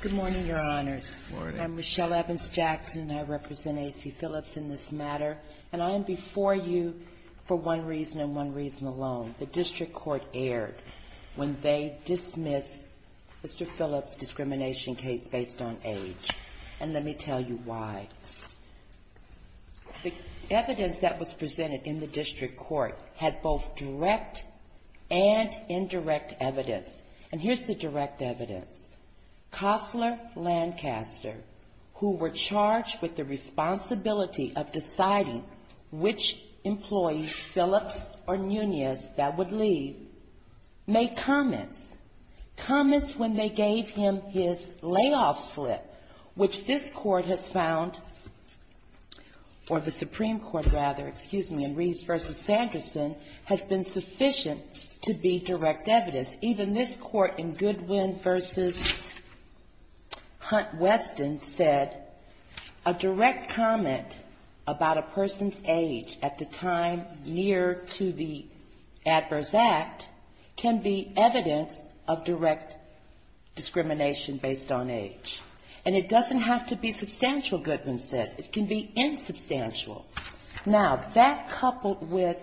Good morning, Your Honors. I'm Michelle Evans-Jackson, and I represent A.C. Phillips in this matter, and I am before you for one reason and one reason alone. The district court erred when they dismissed Mr. Phillips' discrimination case based on age, and let me tell you why. The evidence that was presented in the district court had both direct and indirect evidence, and here's the direct evidence. Costler Lancaster, who were charged with the responsibility of deciding which employee, Phillips or Nunez, that would leave, made comments. Comments when they gave him his layoff slip, which this Court has found, or the Supreme Court, rather, excuse me, in Reeves v. Sanderson, has been sufficient to be direct evidence. Even this Court in Goodwin v. Hunt Weston said a direct comment about a person's age at the time near to the adverse act can be evidence of direct discrimination based on age. And it doesn't have to be substantial, Goodwin says. It can be insubstantial. Now, that coupled with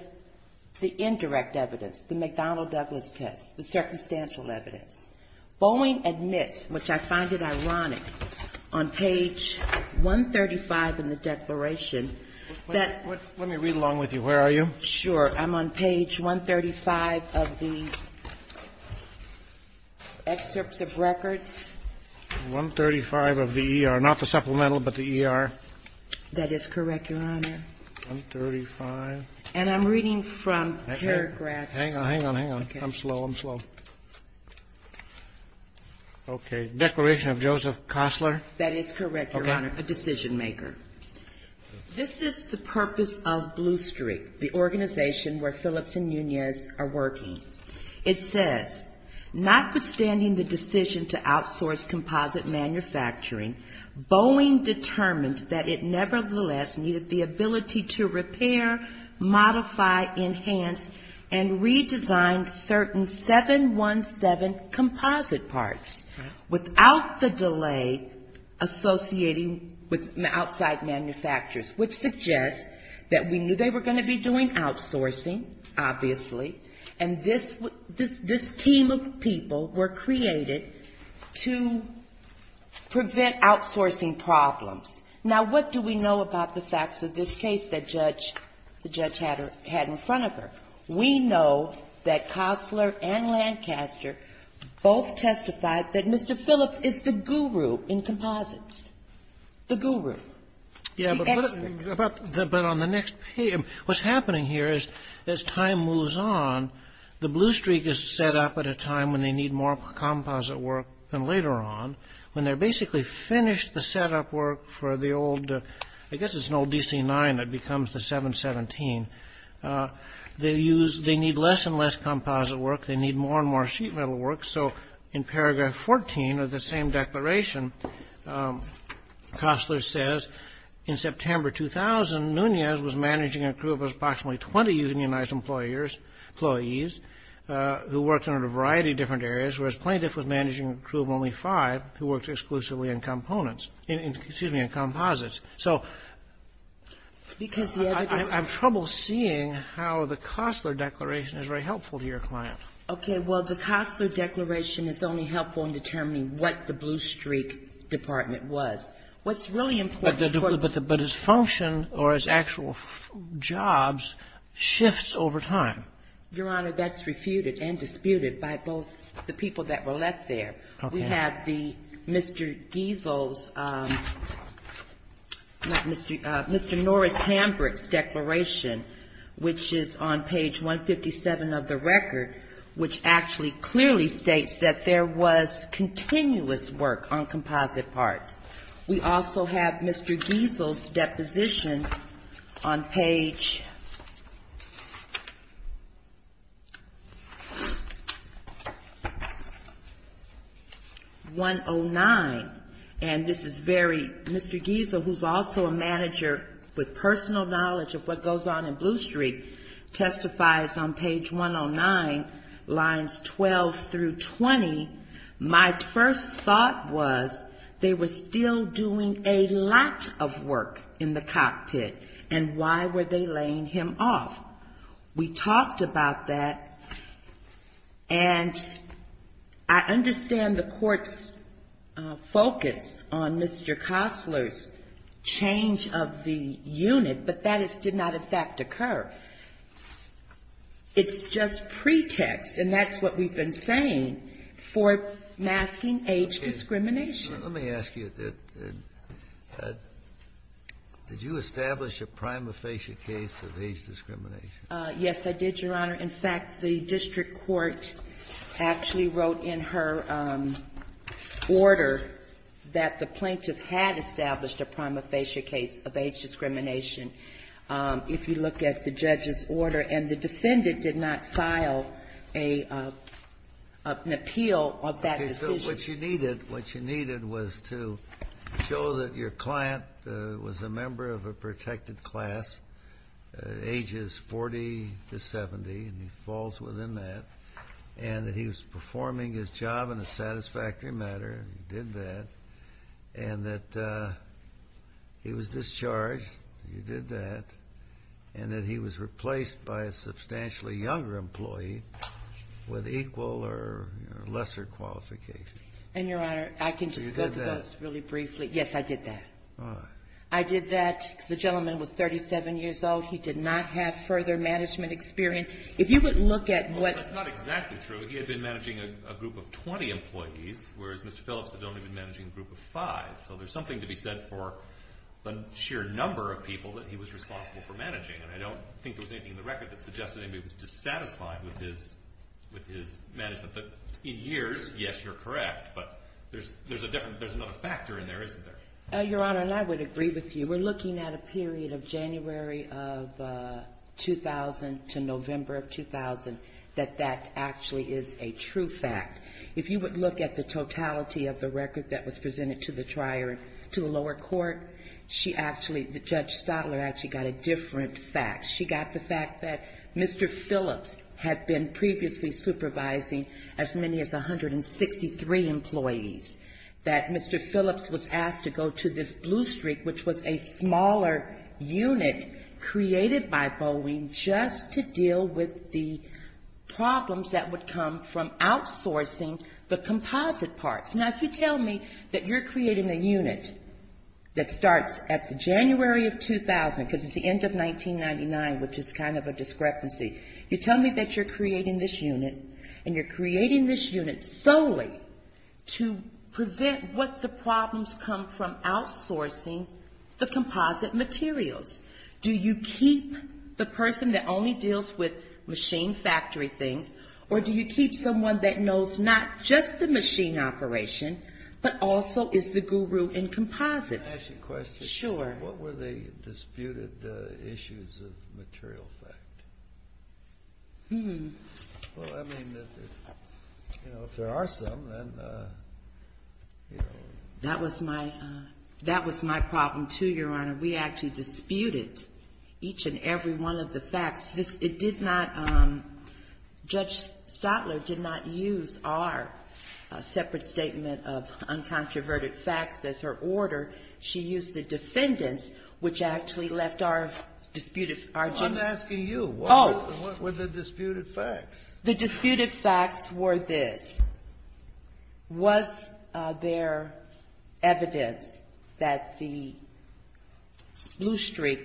the indirect evidence, the McDonnell-Douglas test, the circumstantial evidence, Boeing admits, which I find it ironic, on page 135 in the declaration, that ---- Let me read along with you. Where are you? Sure. I'm on page 135 of the excerpts of records. 135 of the ER. Not the supplemental, but the ER. That is correct, Your Honor. 135. And I'm reading from paragraphs. Hang on, hang on, hang on. I'm slow. I'm slow. Okay. Declaration of Joseph Costler. That is correct, Your Honor. A decision-maker. This is the purpose of Blue Street, the organization where Phillips and Nunez are working. It says, notwithstanding the decision to outsource composite manufacturing, Boeing determined that it nevertheless needed the ability to repair, modify, enhance, and redesign certain 717 composite parts without the delay associating with the outside of the building. Now, we know that there were outside manufacturers, which suggests that we knew they were going to be doing outsourcing, obviously. And this team of people were created to prevent outsourcing problems. Now, what do we know about the facts of this case that Judge ---- the judge had in front of her? We know that Costler and Lancaster both testified that Mr. Phillips is the guru in composites, the guru. Yeah, but on the next page, what's happening here is as time moves on, the Blue Street is set up at a time when they need more composite work than later on, when they're basically finished the setup work for the old ---- I guess it's an old DC-9 that becomes the 717. They use ---- they need less and less composite work. They need more and more sheet metal work. So in paragraph 14 of the same declaration, Costler says, in September 2000, Nunez was managing a crew of approximately 20 unionized employers, employees, who worked in a variety of different areas, whereas Plaintiff was managing a crew of only five who worked exclusively in components ---- excuse me, in composites. So I have trouble seeing how the Costler declaration is very helpful to your client. Okay. Well, the Costler declaration is only helpful in determining what the Blue Street Department was. What's really important is ---- But the ---- but its function or its actual jobs shifts over time. Your Honor, that's refuted and disputed by both the people that were left there. Okay. We have the Mr. Giesel's ---- not Mr. ---- Mr. Norris Hambrick's declaration, which is on page 157 of the record, which actually clearly states that there was continuous work on composite parts. We also have Mr. Giesel's deposition on page 109. And this is very ---- Mr. Giesel, who's also a manager with personal knowledge of what goes on in Blue Street, testifies on page 109, lines 12 through 20, my first thought was they were still doing a lot of work in the cockpit, and why were they laying him off? We talked about that. And I understand the Court's focus on Mr. Costler's change of the unit, but that did not, in fact, occur. It's just pretext, and that's what we've been saying, for masking age discrimination. Let me ask you, did you establish a prima facie case of age discrimination? Yes, I did, Your Honor. In fact, the district court actually wrote in her order that the plaintiff had established a prima facie case of age discrimination, if you look at the judge's order. And the defendant did not file a ---- an appeal of that decision. What you needed was to show that your client was a member of a protected class, ages 40 to 70, and he falls within that, and that he was performing his job in a satisfactory manner, he did that, and that he was discharged, he did that, and that he was replaced by a substantially younger employee with equal or lesser qualifications. And, Your Honor, I can just go to those really briefly. Yes, I did that. I did that. The gentleman was 37 years old. He did not have further management experience. If you would look at what ---- Well, that's not exactly true. He had been managing a group of 20 employees, whereas Mr. Phillips had only been managing a group of five. So there's something to be said for the sheer number of people that he was responsible for managing. And I don't think there was anything in the record that suggested he was dissatisfied with his management. But in years, yes, you're correct, but there's a different ---- there's another factor in there, isn't there? Your Honor, and I would agree with you. We're looking at a period of January of 2000 to November of 2000 that that actually is a true fact. If you would look at the totality of the record that was presented to the lower court, she actually ---- Judge Stadler actually got a different fact. She got the fact that Mr. Phillips had been previously supervising as many as 163 employees, that Mr. Phillips was asked to go to this blue streak, which was a smaller unit created by Boeing just to deal with the problems that would come from outsourcing the composite parts. Now, if you tell me that you're creating a unit that starts at the January of 2000, because it's the end of 1999, which is kind of a discrepancy, you tell me that you're creating this unit, and you're creating this unit solely to prevent what the problems come from outsourcing the composite materials. Do you keep the person that only deals with machine factory things, or do you keep the person that only deals with composite things, or do you keep someone that knows not just the machine operation, but also is the guru in composites? Can I ask you a question? Sure. What were the disputed issues of material fact? Well, I mean, you know, if there are some, then, you know. That was my problem, too, Your Honor. We actually disputed each and every one of the facts. It did not, Judge Stotler did not use our separate statement of uncontroverted facts as her order. She used the defendants, which actually left our disputed. I'm asking you. What were the disputed facts? The disputed facts were this. Was there evidence that the blue streak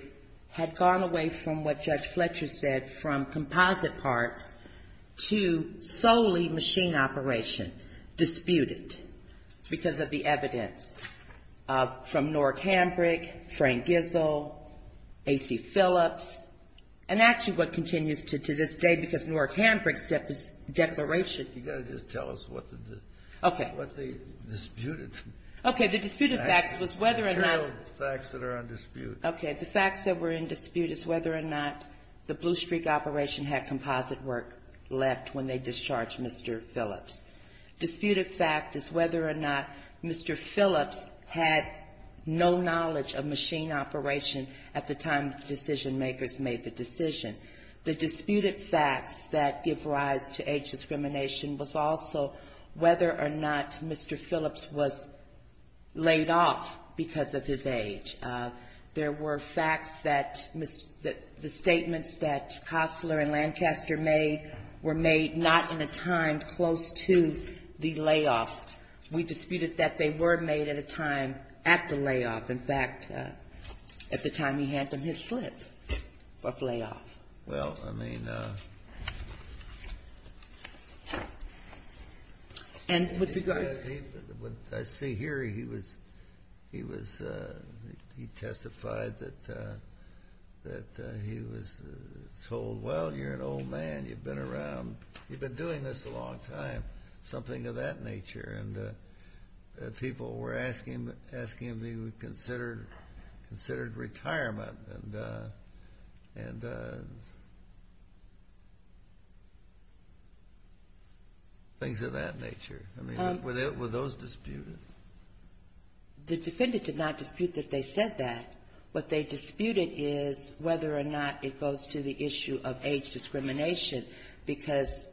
had gone away from what Judge Fletcher's order said, from composite parts, to solely machine operation, disputed, because of the evidence, from Nork Hambrick, Frank Gissel, A.C. Phillips, and actually what continues to this day, because Nork Hambrick's declaration. You've got to just tell us what they disputed. Okay. The disputed facts was whether or not. The facts that are undisputed. Okay. The facts that were in dispute is whether or not the blue streak operation had composite work left when they discharged Mr. Phillips. Disputed fact is whether or not Mr. Phillips had no knowledge of machine operation at the time the decision makers made the decision. The disputed facts that give rise to age discrimination was also whether or not Mr. Phillips was laid off because of his decision. There were facts that the statements that Costler and Lancaster made were made not in a time close to the layoff. We disputed that they were made at a time at the layoff. In fact, at the time he had them, his slip of layoff. Well, I mean, and with regard to the one I see here, he was, he was, he was, I think, he testified that, that he was told, well, you're an old man, you've been around, you've been doing this a long time, something of that nature. And people were asking him, asking him if he would consider, considered retirement and, and things of that nature. I mean, were they, were those disputed? The defendant did not dispute that they said that. What they disputed is whether or not it goes to the issue of age discrimination, because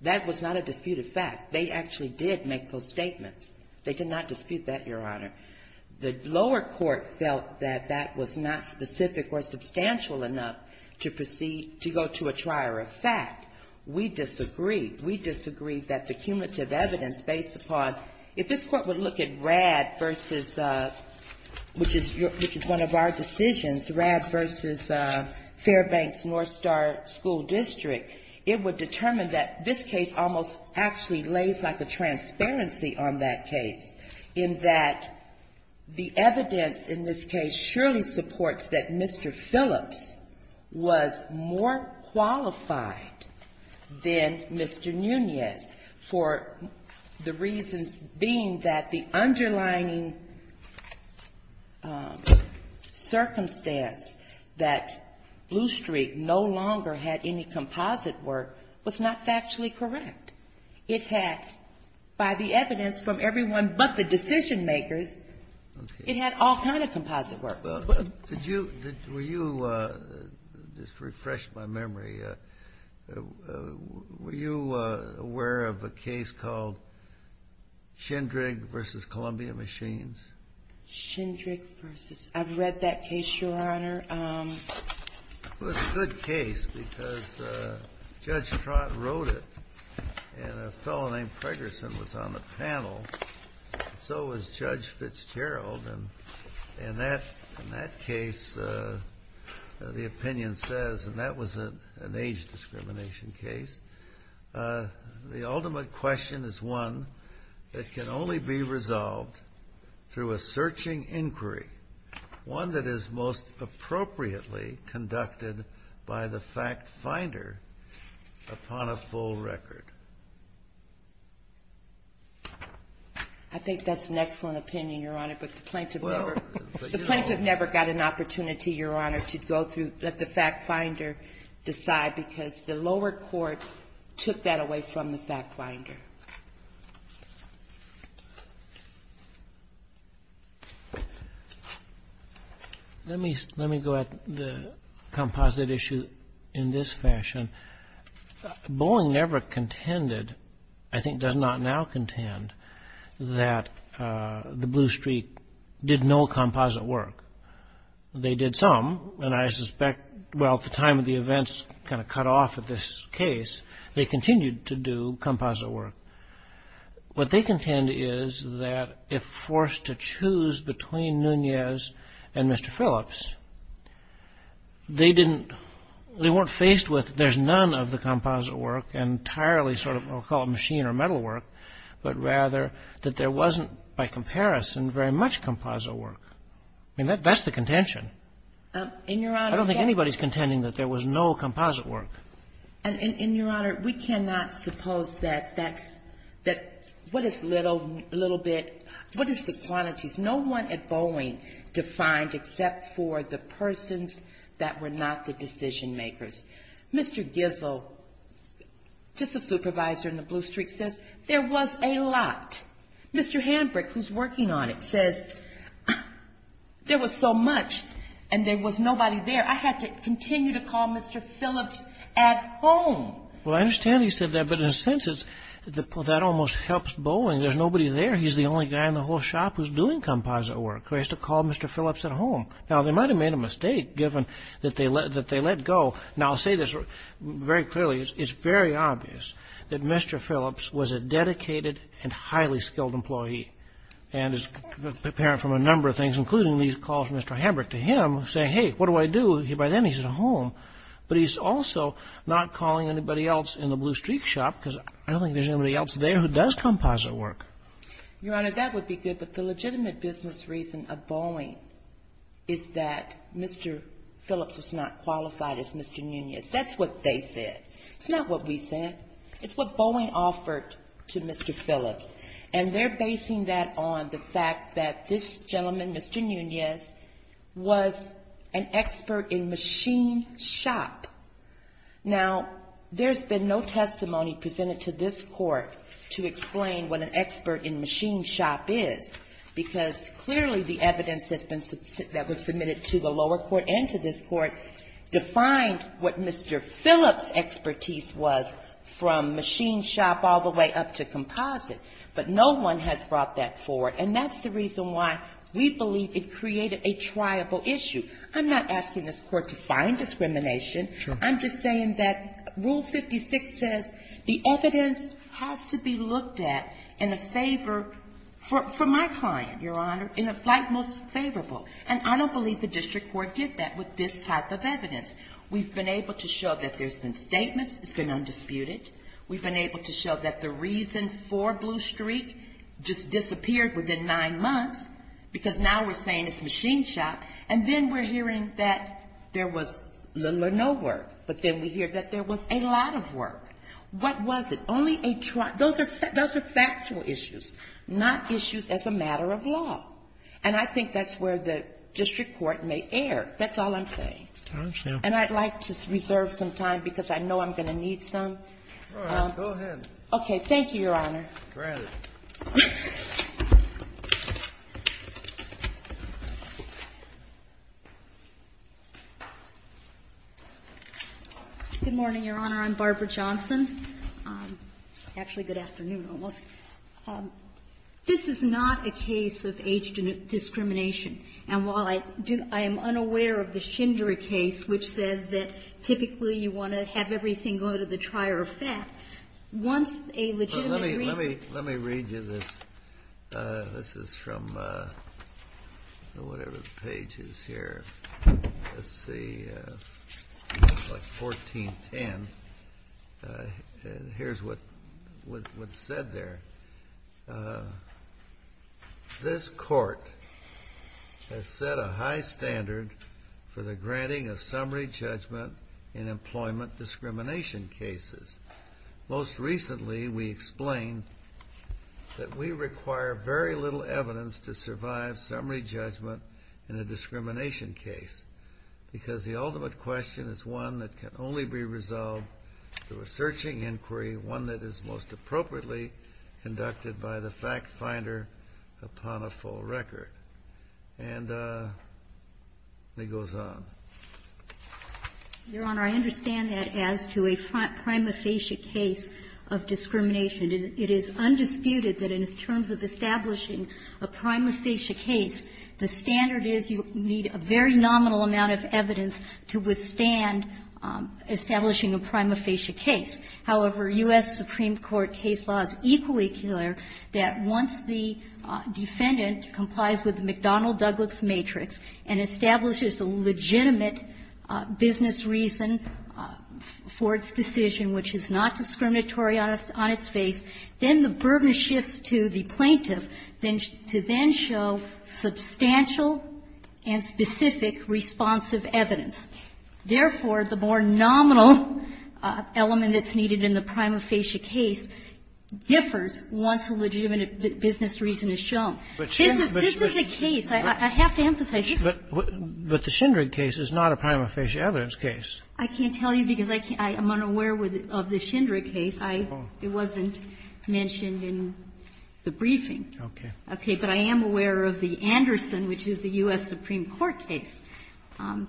that was not a disputed fact. They actually did make those statements. They did not dispute that, Your Honor. The lower court felt that that was not specific or substantial enough to proceed, to go to a trier of fact. We disagree. We disagree that the cumulative evidence based upon, if this Court would look at Radd versus, which is, which is one of our decisions, Radd versus Fairbanks-Northstar School District, it would determine that this case almost actually lays like a transparency on that case, in that the evidence in this case surely supports that Mr. Phillips was more qualified than Mr. Phillips. Then Mr. Nunez, for the reasons being that the underlining circumstance that Bluestreak no longer had any composite work, was not factually correct. It had, by the evidence from everyone but the decision-makers, it had all kind of composite work. Kennedy. Were you aware of a case called Shindrig versus Columbia Machines? Shindrig versus, I've read that case, Your Honor. It was a good case, because Judge Trott wrote it, and a fellow named Pregerson was on the panel. So was Judge Fitzgerald, and in that case, the opinion says, and that was an age discrimination case. The ultimate question is one that can only be resolved through a searching inquiry, one that is most appropriately conducted by the fact-finder upon a full record. I think that's an excellent opinion, Your Honor, but the plaintiff never, the plaintiff never got an opportunity, Your Honor, to go through, let the fact-finder decide, because the lower court took that away from the fact-finder. Let me go at the composite issue in this fashion. Bowling never contended, I think does not now contend, that the Bluestreak did no composite work. They did some, and I suspect, well, at the time of the events kind of cut off at this case, they continued to do composite work. What they contend is that if forced to choose between Nunez and Mr. Phillips, they didn't, they weren't faced with, there's none of the composite work, entirely sort of, I'll call it machine or metal work, but rather that there wasn't, by comparison, very much composite work. I mean, that's the contention. I don't think anybody's contending that there was no composite work. And, Your Honor, we cannot suppose that that's, that what is little, little bit, what is the quantities? No one at Bowling defined except for the persons that were not the decision-makers. Mr. Gissel, just a supervisor in the Bluestreak, says there was a lot. Mr. Hanbrick, who's working on it, says there was so much, and there was nobody there. I had to continue to call Mr. Phillips at home. Well, I understand you said that, but in a sense, it's, that almost helps Bowling. There's nobody there, he's the only guy in the whole shop who's doing composite work, who has to call Mr. Phillips at home. Now, they might have made a mistake, given that they let go. Now, I'll say this very clearly, it's very obvious that Mr. Phillips was a dedicated and highly-skilled employee. And it's apparent from a number of things, including these calls from Mr. Hanbrick to him, saying, hey, what do I do? By then, he's at home. But he's also not calling anybody else in the Bluestreak shop, because I don't think there's anybody else there who does composite work. Your Honor, that would be good, but the legitimate business reason of Bowling is that Mr. Phillips was not qualified as Mr. Nunez. That's what they said. It's not what we said. It's what Bowling offered to Mr. Phillips. And they're basing that on the fact that this gentleman, Mr. Nunez, was an expert in machine shop. Now, there's been no testimony presented to this Court to explain what an expert in machine shop is. Because clearly the evidence that was submitted to the lower court and to this Court defined what Mr. Phillips' expertise was from machine shop all the way up to composite. But no one has brought that forward, and that's the reason why we believe it created a triable issue. I'm not asking this Court to find discrimination. I'm just saying that Rule 56 says the evidence has to be looked at in a favor for my client, Your Honor, in a fight most favorable. And I don't believe the district court did that with this type of evidence. We've been able to show that there's been statements. It's been undisputed. We've been able to show that the reason for Bluestreak just disappeared within nine months, because now we're saying it's machine shop. And then we're hearing that there was little or no work, but then we hear that there was a lot of work. What was it? Only a trial. Those are factual issues, not issues as a matter of law. And I think that's where the district court may err. That's all I'm saying. And I'd like to reserve some time, because I know I'm going to need some. Okay. Thank you, Your Honor. Good morning, Your Honor. I'm Barbara Johnson. Actually, good afternoon, almost. This is not a case of age discrimination. And while I do — I am unaware of the Schindler case, which says that typically you want to have everything go to the trier of fat, once a legitimate reason — this is from whatever page is here. Let's see. 1410. Here's what's said there. This court has set a high standard for the granting of summary judgment in employment discrimination cases. Most recently, we explained that we require very little evidence to survive summary judgment in a discrimination case, because the ultimate question is one that can only be resolved through a searching inquiry, one that is most appropriately conducted by the fact-finder upon a full record. And it goes on. Your Honor, I understand that as to a prima facie case of discrimination. It is undisputed that in terms of establishing a prima facie case, the standard is you need a very nominal amount of evidence to withstand establishing a prima facie case. However, U.S. Supreme Court case law is equally clear that once the defendant complies with the McDonnell-Douglas matrix and establishes a legitimate business reason for its decision, which is not discriminatory on its face, then the burden shifts to the plaintiff to then show substantial and specific responsive evidence. Therefore, the more nominal element that's needed in the prima facie case differs once a legitimate business reason is shown. This is a case. I have to emphasize this. But the Schindrig case is not a prima facie evidence case. I can't tell you, because I'm unaware of the Schindrig case. It wasn't mentioned in the briefing. Okay. Okay. But I am aware of the Anderson, which is the U.S. Supreme Court case. Well, I'm unfamiliar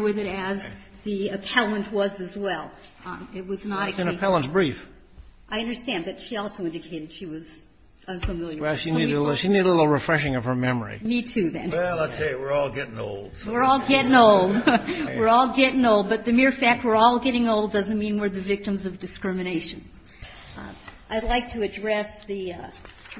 with it as the appellant was as well. It was not a case. It's an appellant's brief. I understand. But she also indicated she was unfamiliar. Well, she needed a little refreshing of her memory. Me, too, then. Well, I'll tell you, we're all getting old. We're all getting old. We're all getting old. But the mere fact we're all getting old doesn't mean we're the victims of discrimination. I'd like to address the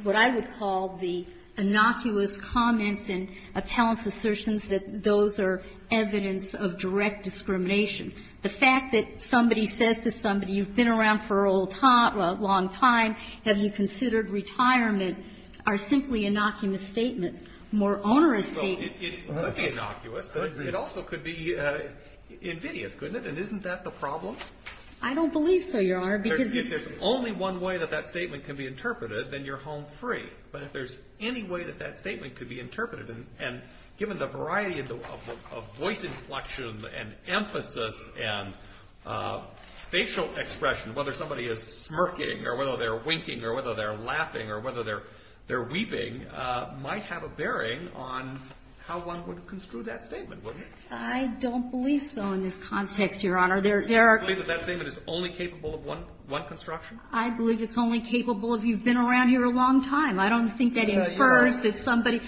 what I would call the innocuous comments in appellant's assertions that those are evidence of direct discrimination. The fact that somebody says to somebody, you've been around for a long time, have you considered retirement, are simply innocuous statements, more onerous statements. It could be innocuous. It also could be invidious, couldn't it? And isn't that the problem? I don't believe so, Your Honor, because you If there's only one way that that statement can be interpreted, then you're home free. But if there's any way that that statement could be interpreted, and given the variety of voice inflection and emphasis and facial expression, whether somebody is smirking or whether they're winking or whether they're laughing or whether they're weeping, might have a bearing on how one would construe that statement, wouldn't it? I don't believe so in this context, Your Honor. There are Do you believe that that statement is only capable of one construction? I believe it's only capable if you've been around here a long time. I don't think that infers that somebody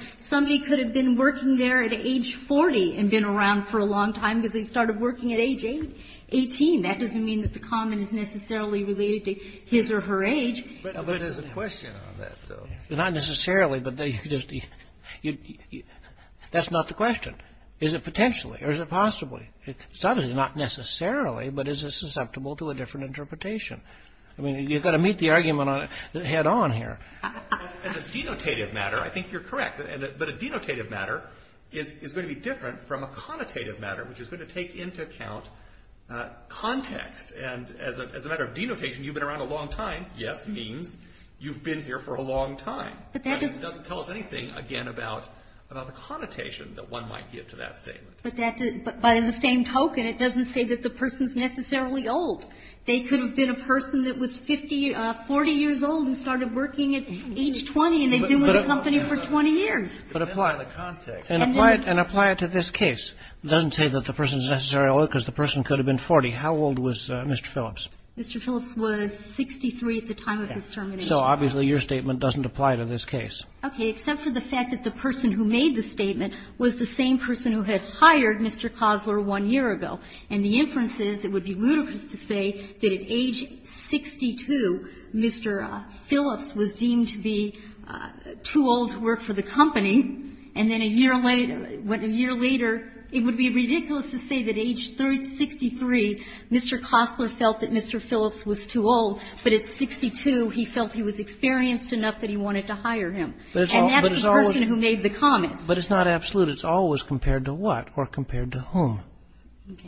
could have been working there at age 40 and been around for a long time because they started working at age 18. That doesn't mean that the comment is necessarily related to his or her age. But there's a question on that, though. Not necessarily, but that's not the question. Is it potentially, or is it possibly? Suddenly, not necessarily, but is it susceptible to a different interpretation? I mean, you've got to meet the argument head on here. As a denotative matter, I think you're correct. But a denotative matter is going to be different from a connotative matter, which is going to take into account context. And as a matter of denotation, you've been around a long time. Yes means you've been here for a long time. But that doesn't tell us anything, again, about the connotation that one might give to that statement. But in the same token, it doesn't say that the person's necessarily old. They could have been a person that was 40 years old and started working at age 20, and they've been with the company for 20 years. But apply the context. And apply it to this case. Doesn't say that the person's necessarily old because the person could have been 40. How old was Mr. Phillips? Mr. Phillips was 63 at the time of his termination. So obviously, your statement doesn't apply to this case. Okay. Except for the fact that the person who made the statement was the same person who had hired Mr. Kossler one year ago. And the inference is it would be ludicrous to say that at age 62, Mr. Phillips was deemed to be too old to work for the company. And then a year later, it would be ridiculous to say that at age 63, Mr. Kossler felt that Mr. Phillips was too old, but at 62, he felt he was experienced enough that he wanted to hire him. And that's the person who made the comments. But it's not absolute. It's always compared to what or compared to whom.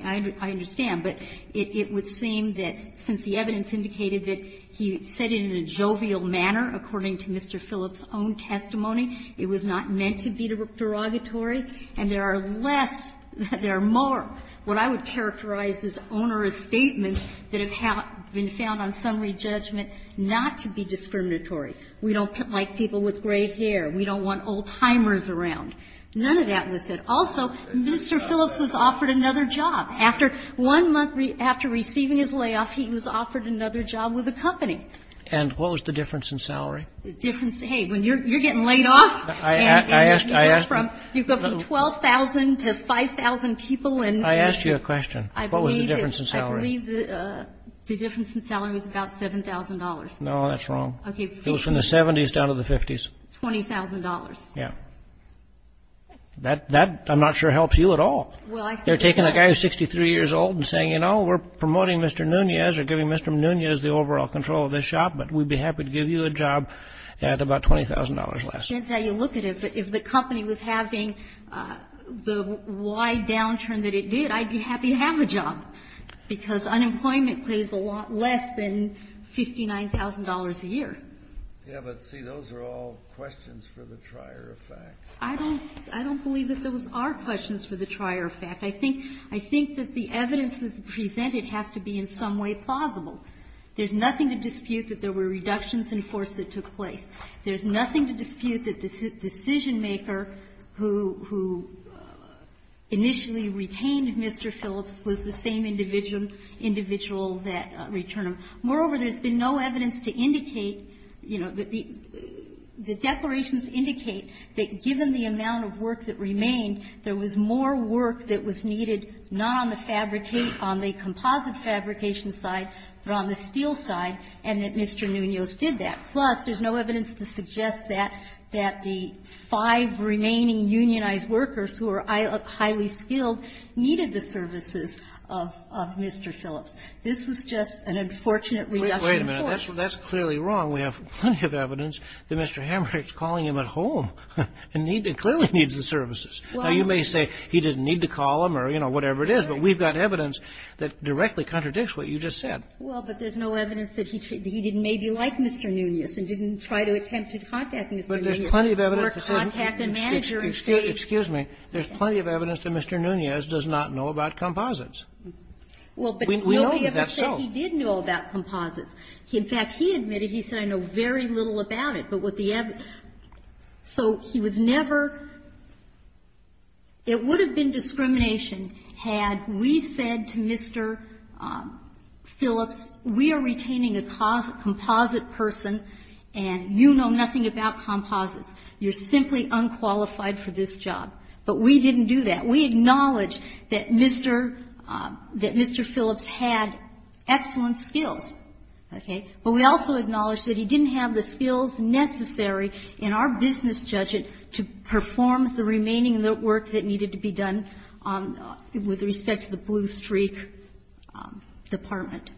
I understand. But it would seem that since the evidence indicated that he said it in a jovial manner according to Mr. Phillips' own testimony, it was not meant to be derogatory, and there are less, there are more. What I would characterize as onerous statements that have been found on summary judgment not to be discriminatory. We don't like people with gray hair. We don't want old-timers around. None of that was said. Also, Mr. Phillips was offered another job. After one month after receiving his layoff, he was offered another job with the company. And what was the difference in salary? The difference, hey, when you're getting laid off, and you go from 12,000 to 5,000 people and I asked you a question. I believe the difference in salary is about $7,000. No, that's wrong. It was from the 70s down to the 50s. $20,000. Yeah. That I'm not sure helps you at all. They're taking a guy who's 63 years old and saying, you know, we're promoting Mr. Nunez or giving Mr. Nunez the overall control of this shop. But we'd be happy to give you a job at about $20,000 less. It depends how you look at it. If the company was having the wide downturn that it did, I'd be happy to have a job. Because unemployment pays a lot less than $59,000 a year. Yeah, but see, those are all questions for the trier of fact. I don't believe that those are questions for the trier of fact. I think that the evidence that's presented has to be in some way plausible. There's nothing to dispute that there were reductions in force that took place. There's nothing to dispute that the decision-maker who initially retained Mr. Phillips was the same individual that returned him. Moreover, there's been no evidence to indicate, you know, that the declarations indicate that given the amount of work that remained, there was more work that was needed not on the fabricate, on the composite fabrication side, but on the steel side, and that Mr. Nunez did that. Plus, there's no evidence to suggest that the five remaining unionized workers who are highly skilled needed the services of Mr. Phillips. This is just an unfortunate reduction in force. Wait a minute. That's clearly wrong. We have plenty of evidence that Mr. Hamrick's calling him at home and clearly needs the services. Now, you may say he didn't need to call him or, you know, whatever it is, but we've got evidence that directly contradicts what you just said. Well, but there's no evidence that he didn't maybe like Mr. Nunez and didn't try to attempt to contact Mr. Nunez. But there's plenty of evidence to say he didn't. Or contact a manager and say he didn't. Excuse me. There's plenty of evidence that Mr. Nunez does not know about composites. Well, but nobody ever said he did know about composites. In fact, he admitted, he said, I know very little about it. But what the evidence so he was never, it would have been discrimination had we said to Mr. Phillips, we are retaining a composite person and you know nothing about composites. You're simply unqualified for this job. But we didn't do that. We acknowledge that Mr. Phillips had excellent skills, okay, but we also acknowledge that he didn't have the skills necessary in our business judgment to perform with respect to the Blue Streak Department.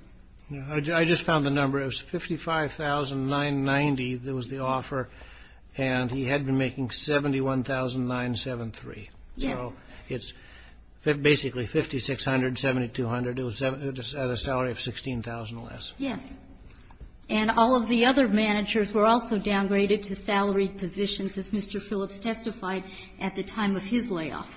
I just found the number. It was 55,990 that was the offer. And he had been making 71,973. Yes. So it's basically 5,600, 7,200 at a salary of 16,000 or less. Yes. And all of the other managers were also downgraded to salaried positions, as Mr. Phillips testified at the time of his layoff.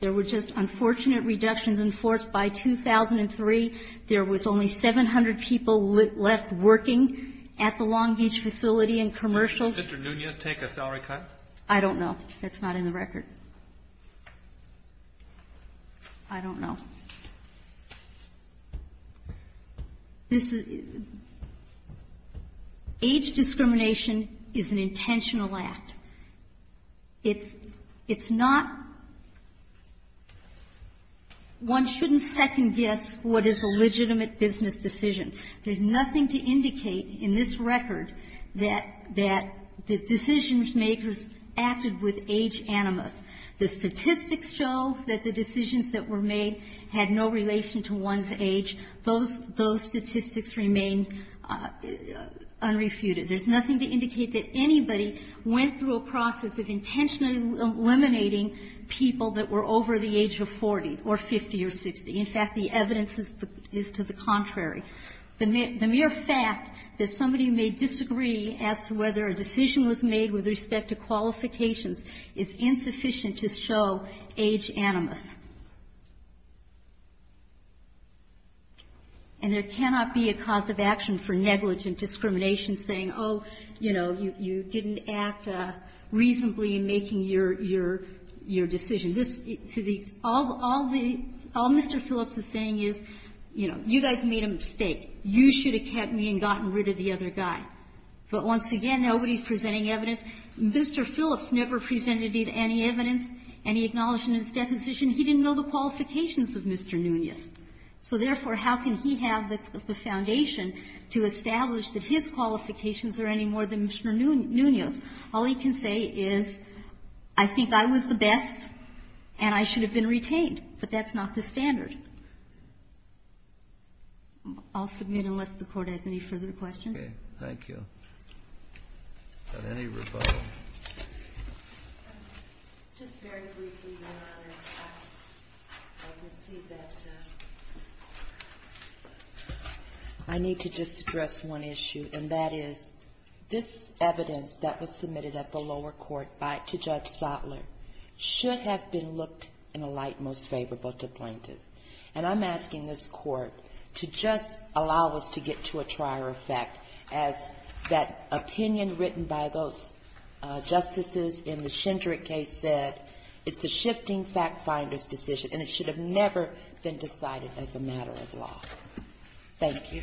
There were just unfortunate reductions enforced by 2003. There was only 700 people left working at the Long Beach facility and commercials. Did Mr. Nunez take a salary cut? I don't know. That's not in the record. I don't know. This is, age discrimination is an intentional act. It's not one shouldn't second-guess what is a legitimate business decision. There's nothing to indicate in this record that the decision-makers acted with age animus. The statistics show that the decisions that were made had no relation to one's age. Those statistics remain unrefuted. There's nothing to indicate that anybody went through a process of intentionally eliminating people that were over the age of 40 or 50 or 60. In fact, the evidence is to the contrary. The mere fact that somebody may disagree as to whether a decision was made with respect to qualifications is insufficient to show age animus. And there cannot be a cause of action for negligent discrimination saying, oh, you know, you didn't act reasonably in making your decision. This, to the, all Mr. Phillips is saying is, you know, you guys made a mistake. You should have kept me and gotten rid of the other guy. But once again, nobody's presenting evidence. Mr. Phillips never presented any evidence, any acknowledgment of his deposition. He didn't know the qualifications of Mr. Nunez. So therefore, how can he have the foundation to establish that his qualifications are any more than Mr. Nunez? All he can say is, I think I was the best, and I should have been retained. But that's not the standard. I'll submit unless the Court has any further questions. Kennedy. Thank you. Is there any rebuttal? Just very briefly, Your Honor, I receive that I need to just address one issue. And that is, this evidence that was submitted at the lower court to Judge Stotler should have been looked in a light most favorable to plaintiff. And I'm asking this Court to just allow us to get to a trier effect as that opinion written by those justices in the Shindrick case said, it's a shifting fact-finder's decision, and it should have never been decided as a matter of law. Thank you.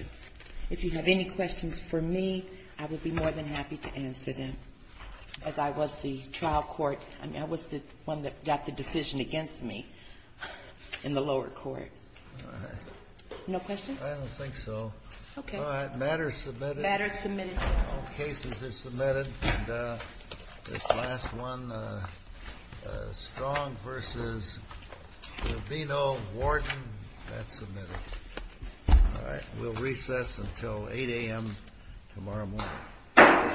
If you have any questions for me, I would be more than happy to answer them. As I was the trial court, I was the one that got the decision against me in the lower court. All right. No questions? I don't think so. Okay. All right. Matters submitted. Matters submitted. All cases are submitted. And this last one, Strong v. Lovino, Warden, that's submitted. All right. We'll recess until 8 a.m. tomorrow morning.